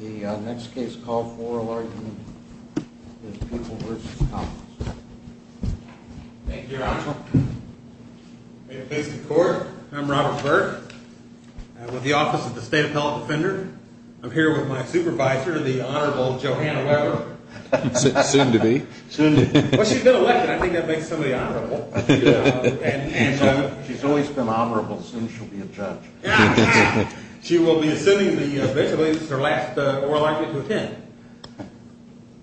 The next case call for oral argument is Peoples v. Collins. Thank you, Your Honor. In the face of the court, I'm Robert Burke. I'm with the Office of the State Appellate Defender. I'm here with my supervisor, the Honorable Johanna Weber. Soon to be. Well, she's been elected. I think that makes somebody honorable. She's always been honorable. Soon she'll be a judge. She will be assuming the vigilance. It's her last oral argument to attend.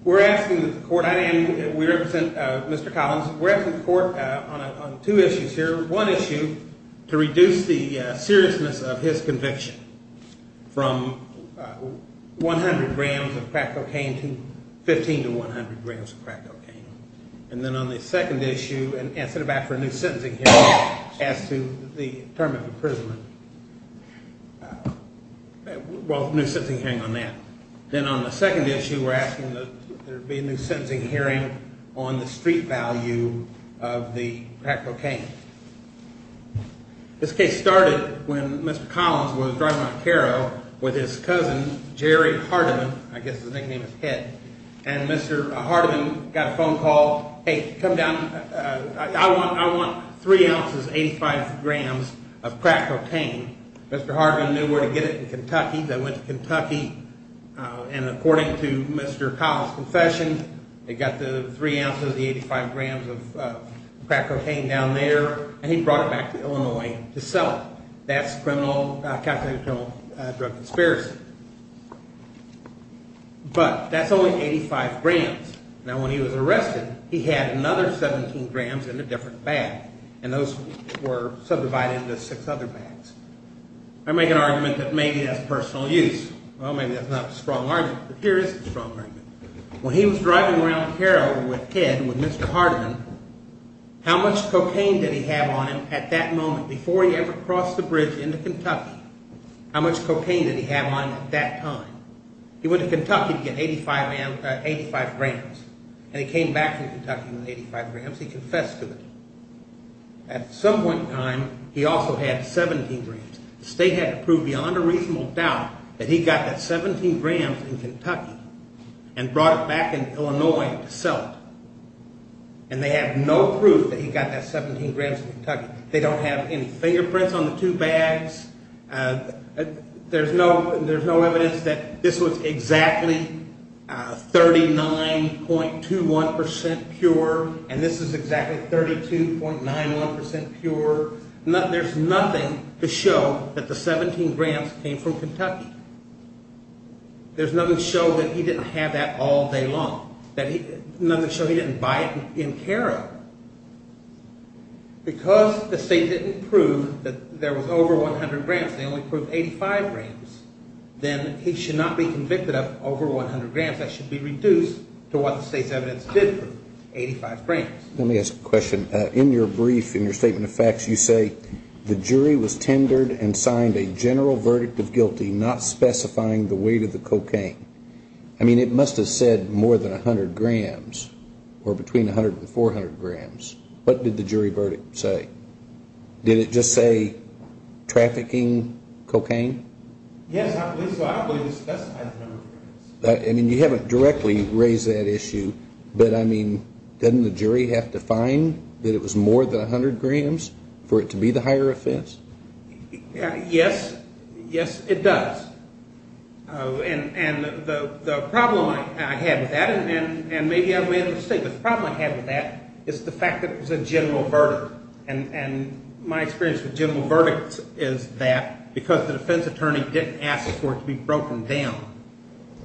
We're asking the court, and we represent Mr. Collins, we're asking the court on two issues here. One issue, to reduce the seriousness of his conviction from 100 grams of crack cocaine to 15 to 100 grams of crack cocaine. And then on the second issue, instead of asking for a new sentencing hearing as to the term of imprisonment. Well, a new sentencing hearing on that. Then on the second issue, we're asking that there be a new sentencing hearing on the street value of the crack cocaine. This case started when Mr. Collins was driving on Cairo with his cousin, Jerry Hardiman. I guess his nickname is Head. And Mr. Hardiman got a phone call, hey, come down, I want 3 ounces, 85 grams of crack cocaine. Mr. Hardiman knew where to get it in Kentucky. They went to Kentucky. And according to Mr. Collins' confession, they got the 3 ounces, the 85 grams of crack cocaine down there, and he brought it back to Illinois to sell it. That's criminal, calculated criminal drug conspiracy. But that's only 85 grams. Now, when he was arrested, he had another 17 grams in a different bag, and those were subdivided into six other bags. I make an argument that maybe that's personal use. Well, maybe that's not a strong argument, but here is a strong argument. When he was driving around Cairo with Head, with Mr. Hardiman, how much cocaine did he have on him at that moment, before he ever crossed the bridge into Kentucky? How much cocaine did he have on him at that time? He went to Kentucky to get 85 grams, and he came back from Kentucky with 85 grams. He confessed to it. At some point in time, he also had 17 grams. The state had to prove beyond a reasonable doubt that he got that 17 grams in Kentucky and brought it back in Illinois to sell it. And they have no proof that he got that 17 grams in Kentucky. They don't have any fingerprints on the two bags. There's no evidence that this was exactly 39.21% pure, and this is exactly 32.91% pure. There's nothing to show that the 17 grams came from Kentucky. There's nothing to show that he didn't have that all day long, nothing to show he didn't buy it in Cairo. Because the state didn't prove that there was over 100 grams, they only proved 85 grams, then he should not be convicted of over 100 grams. That should be reduced to what the state's evidence did prove, 85 grams. Let me ask a question. In your brief, in your statement of facts, you say, the jury was tendered and signed a general verdict of guilty, not specifying the weight of the cocaine. I mean, it must have said more than 100 grams, or between 100 and 400 grams. What did the jury verdict say? Did it just say trafficking cocaine? Yes, I believe it specified the number of grams. I mean, you haven't directly raised that issue, but I mean, doesn't the jury have to find that it was more than 100 grams for it to be the higher offense? Yes. Yes, it does. And the problem I had with that, and maybe I made a mistake, but the problem I had with that is the fact that it was a general verdict. And my experience with general verdicts is that because the defense attorney didn't ask for it to be broken down,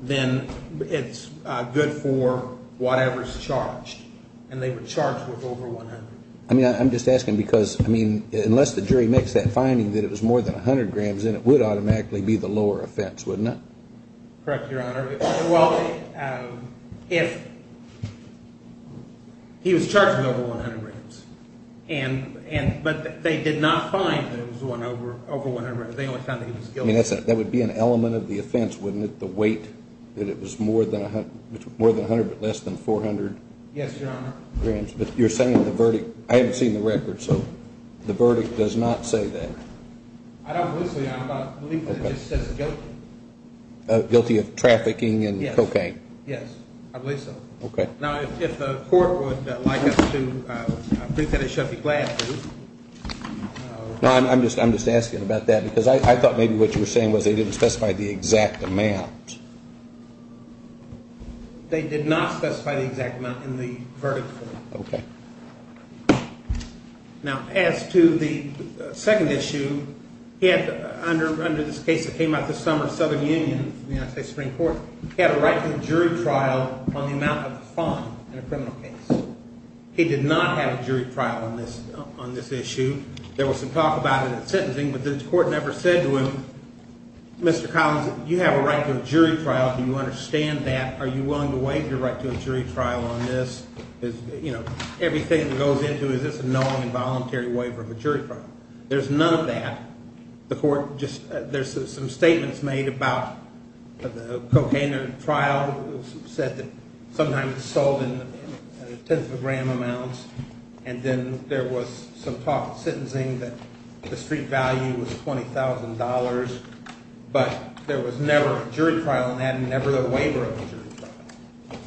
then it's good for whatever's charged. And they were charged with over 100. I mean, I'm just asking because, I mean, unless the jury makes that finding that it was more than 100 grams, then it would automatically be the lower offense, wouldn't it? Correct, Your Honor. Well, if he was charged with over 100 grams, but they did not find that it was over 100 grams, they only found that he was guilty. I mean, that would be an element of the offense, wouldn't it, the weight, that it was more than 100 but less than 400? Yes, Your Honor. But you're saying the verdict, I haven't seen the record, so the verdict does not say that. I don't believe so, Your Honor. I believe that it just says guilty. Guilty of trafficking and cocaine. Yes, I believe so. Okay. Now, if the court would like us to, I think that it should be glad to. No, I'm just asking about that because I thought maybe what you were saying was they didn't specify the exact amount. They did not specify the exact amount in the verdict. Okay. Now, as to the second issue, under this case that came out this summer of Southern Union, the United States Supreme Court, he had a right to a jury trial on the amount of the fine in a criminal case. He did not have a jury trial on this issue. There was some talk about it at sentencing, but the court never said to him, Mr. Collins, you have a right to a jury trial. Do you understand that? Are you willing to waive your right to a jury trial on this? Everything that goes into it is a non-voluntary waiver of a jury trial. There's none of that. There's some statements made about the cocaine trial. It was said that sometimes it's sold in tenths of a gram amounts, and then there was some talk at sentencing that the street value was $20,000, but there was never a jury trial on that and never a waiver of a jury trial.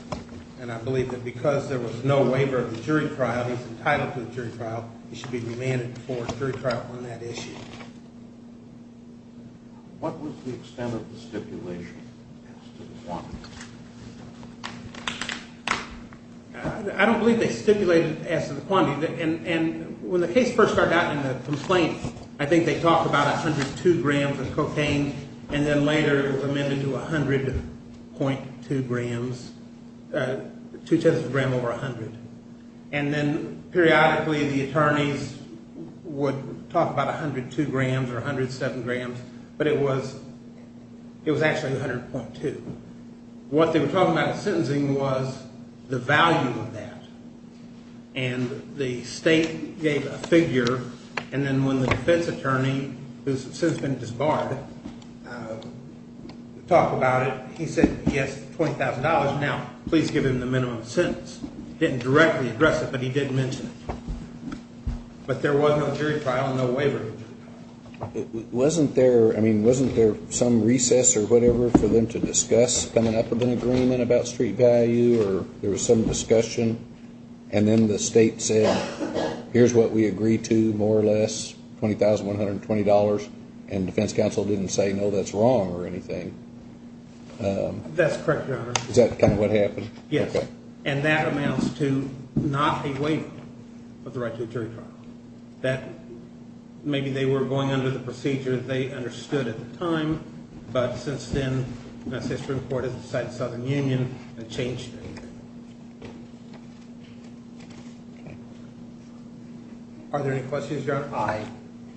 And I believe that because there was no waiver of a jury trial, he's entitled to a jury trial. He should be remanded before a jury trial on that issue. What was the extent of the stipulation as to the quantity? I don't believe they stipulated as to the quantity, and when the case first started out in the complaint, I think they talked about 102 grams of cocaine, and then later it was amended to 100.2 grams, two-tenths of a gram over 100. And then periodically the attorneys would talk about 102 grams or 107 grams, but it was actually 100.2. What they were talking about at sentencing was the value of that, and the state gave a figure, and then when the defense attorney, who has since been disbarred, talked about it, he said, yes, $20,000. Now, please give him the minimum sentence. He didn't directly address it, but he did mention it. But there was no jury trial and no waiver of a jury trial. Wasn't there some recess or whatever for them to discuss coming up with an agreement about street value, or there was some discussion, and then the state said, here's what we agree to, more or less, $20,120, and defense counsel didn't say, no, that's wrong or anything. That's correct, Your Honor. Is that kind of what happened? Yes. Okay. And that amounts to not a waiver of the right to a jury trial. Maybe they were going under the procedure they understood at the time, but since then, the United States Supreme Court has decided the Southern Union and changed it. Are there any questions, Your Honor? I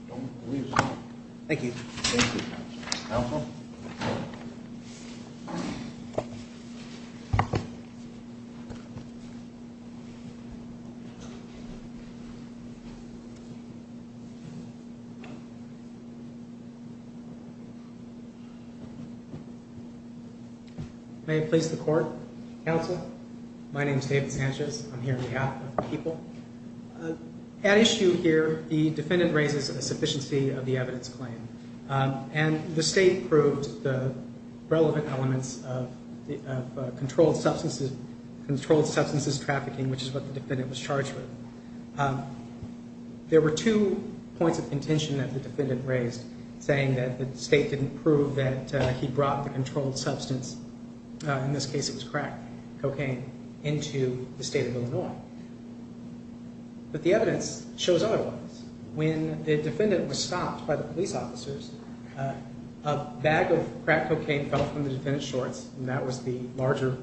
don't believe so. Thank you. Counsel. May it please the Court. Counsel, my name is David Sanchez. I'm here on behalf of the people. At issue here, the defendant raises a sufficiency of the evidence claim, and the state proved the relevant elements of controlled substances trafficking, which is what the defendant was charged with. There were two points of contention that the defendant raised, saying that the state didn't prove that he brought the controlled substance, in this case it was crack cocaine, into the state of Illinois. But the evidence shows otherwise. When the defendant was stopped by the police officers, a bag of crack cocaine fell from the defendant's shorts, and that was the larger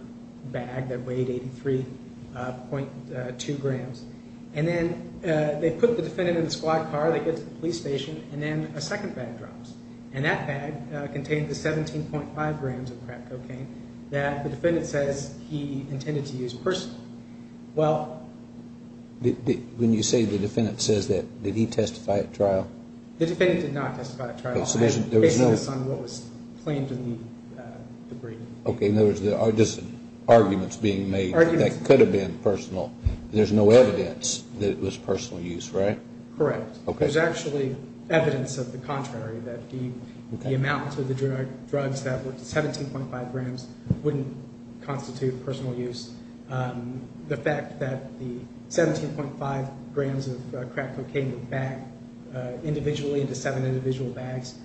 bag that weighed 83.2 grams. And then they put the defendant in the squad car, they get to the police station, and then a second bag drops. And that bag contained the 17.5 grams of crack cocaine that the defendant says he intended to use personally. When you say the defendant says that, did he testify at trial? The defendant did not testify at trial. Based on what was claimed in the brief. Okay, in other words, there are just arguments being made that could have been personal. There's no evidence that it was personal use, right? Correct. There's actually evidence of the contrary, that the amount of the drugs that were 17.5 grams wouldn't constitute personal use. The fact that the 17.5 grams of crack cocaine would bag individually into seven individual bags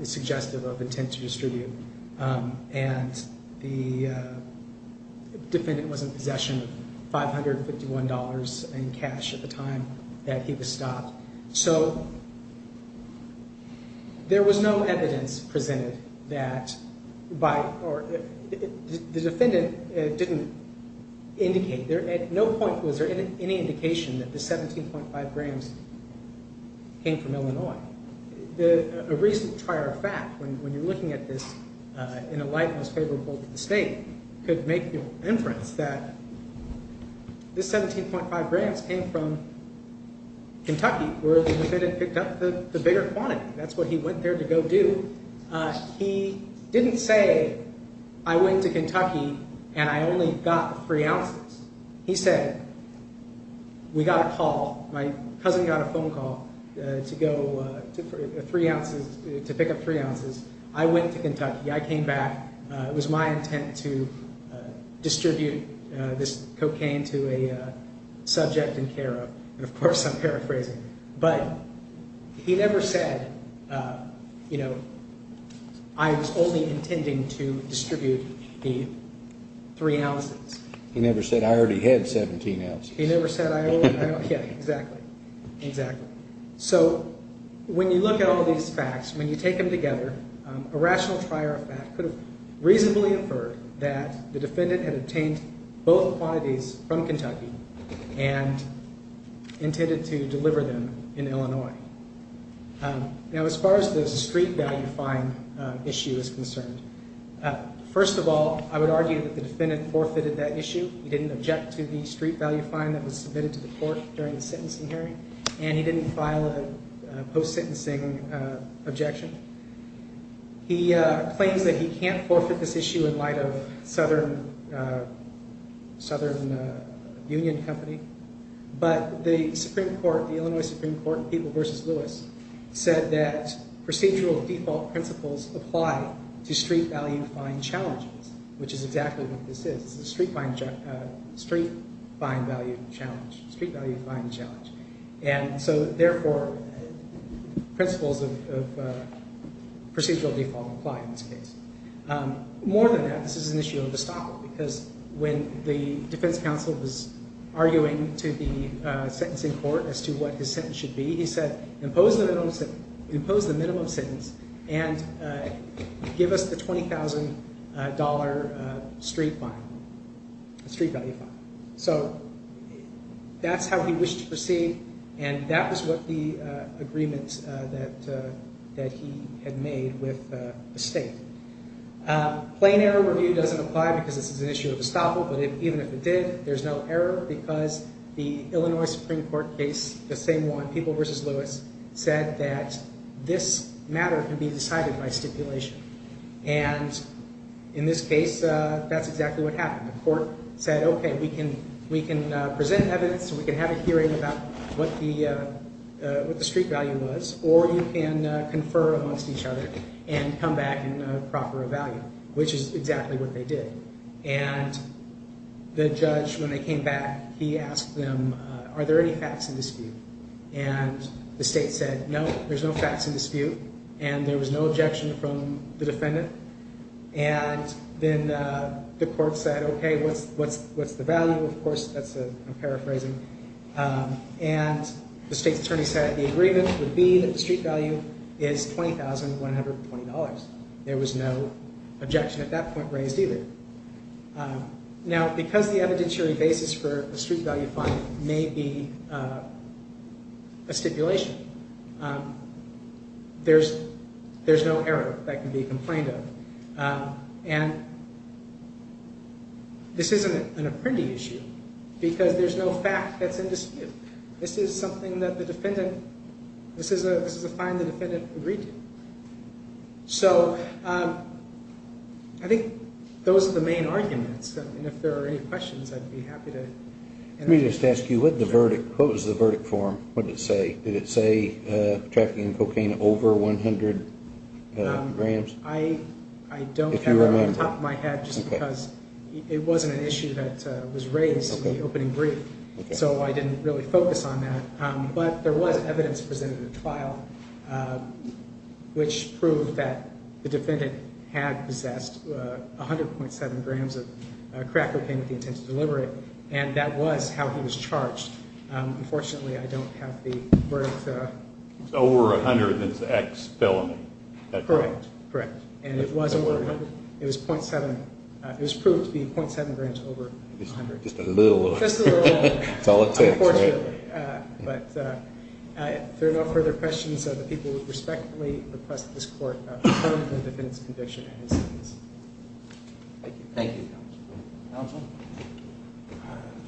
is suggestive of intent to distribute. And the defendant was in possession of $551 in cash at the time that he was stopped. So there was no evidence presented that the defendant didn't indicate, at no point was there any indication that the 17.5 grams came from Illinois. A recent prior fact, when you're looking at this in a light that was favorable to the state, could make the inference that the 17.5 grams came from Kentucky, where the defendant picked up the bigger quantity. That's what he went there to go do. He didn't say, I went to Kentucky and I only got three ounces. He said, we got a call. My cousin got a phone call to pick up three ounces. I went to Kentucky, I came back. It was my intent to distribute this cocaine to a subject in care of. Of course, I'm paraphrasing. But he never said, I was only intending to distribute the three ounces. He never said, I already had 17 ounces. He never said, I already had, yeah, exactly, exactly. So when you look at all these facts, when you take them together, a rational prior fact could reasonably infer that the defendant had obtained both quantities from Kentucky and intended to deliver them in Illinois. Now, as far as the street value fine issue is concerned, first of all, I would argue that the defendant forfeited that issue. He didn't object to the street value fine that was submitted to the court during the sentencing hearing, and he didn't file a post-sentencing objection. He claims that he can't forfeit this issue in light of Southern Union Company. But the Supreme Court, the Illinois Supreme Court, said that procedural default principles apply to street value fine challenges, which is exactly what this is. It's a street fine value challenge, street value fine challenge. And so, therefore, principles of procedural default apply in this case. More than that, this is an issue of estoppel, because when the defense counsel was arguing to the sentencing court as to what his sentence should be, he said, impose the minimum sentence and give us the $20,000 street value fine. So that's how he wished to proceed, and that was what the agreement that he had made with the state. Plain error review doesn't apply because this is an issue of estoppel, but even if it did, there's no error because the Illinois Supreme Court case, the same one, People v. Lewis, said that this matter can be decided by stipulation. And in this case, that's exactly what happened. The court said, okay, we can present evidence, we can have a hearing about what the street value was, or you can confer amongst each other and come back in a proper value, which is exactly what they did. And the judge, when they came back, he asked them, are there any facts in dispute? And the state said, no, there's no facts in dispute, and there was no objection from the defendant. And then the court said, okay, what's the value? Of course, that's a paraphrasing. And the state's attorney said the agreement would be that the street value is $20,120. There was no objection at that point raised either. Now, because the evidentiary basis for a street value fine may be a stipulation, there's no error that can be complained of. And this isn't an apprendee issue, because there's no fact that's in dispute. This is something that the defendant, this is a fine the defendant agreed to. So I think those are the main arguments, and if there are any questions, I'd be happy to. Let me just ask you, what was the verdict form? What did it say? Did it say trafficking in cocaine over 100 grams? I don't have it off the top of my head just because it wasn't an issue that was raised in the opening brief, so I didn't really focus on that. But there was evidence presented in the trial which proved that the defendant had possessed 100.7 grams of crack cocaine with the intent to deliver it, and that was how he was charged. Unfortunately, I don't have the verdict. So over 100, that's ex-felony. Correct. Correct. And it was over 100. It was .7. It was proved to be .7 grams over 100. Just a little. Just a little. That's all it takes, right? Unfortunately. But if there are no further questions, the people would respectfully request that this court determine the defendant's conviction. Thank you. Thank you, counsel. Counsel?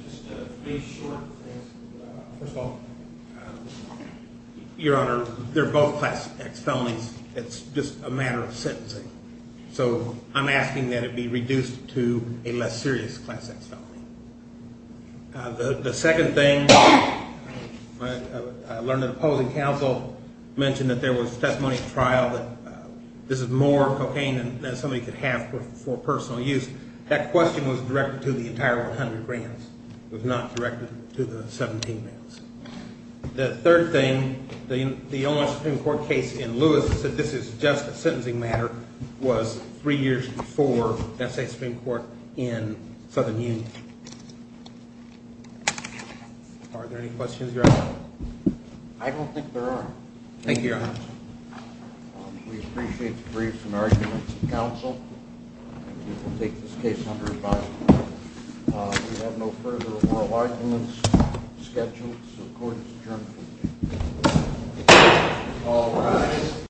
Just to be short, first of all, Your Honor, they're both class X felonies. It's just a matter of sentencing. So I'm asking that it be reduced to a less serious class X felony. The second thing, I learned that opposing counsel mentioned that there was testimony at trial that this is more cocaine than somebody could have for personal use. That question was directed to the entire 100 grams. It was not directed to the 17 grams. The third thing, the only Supreme Court case in Lewis that said this is just a sentencing matter was three years before that same Supreme Court in Southern Union. Are there any questions, Your Honor? I don't think there are. Thank you, Your Honor. We appreciate the briefs and arguments of counsel. We will take this case under advisement. We have no further oral arguments scheduled, so the court is adjourned. All rise.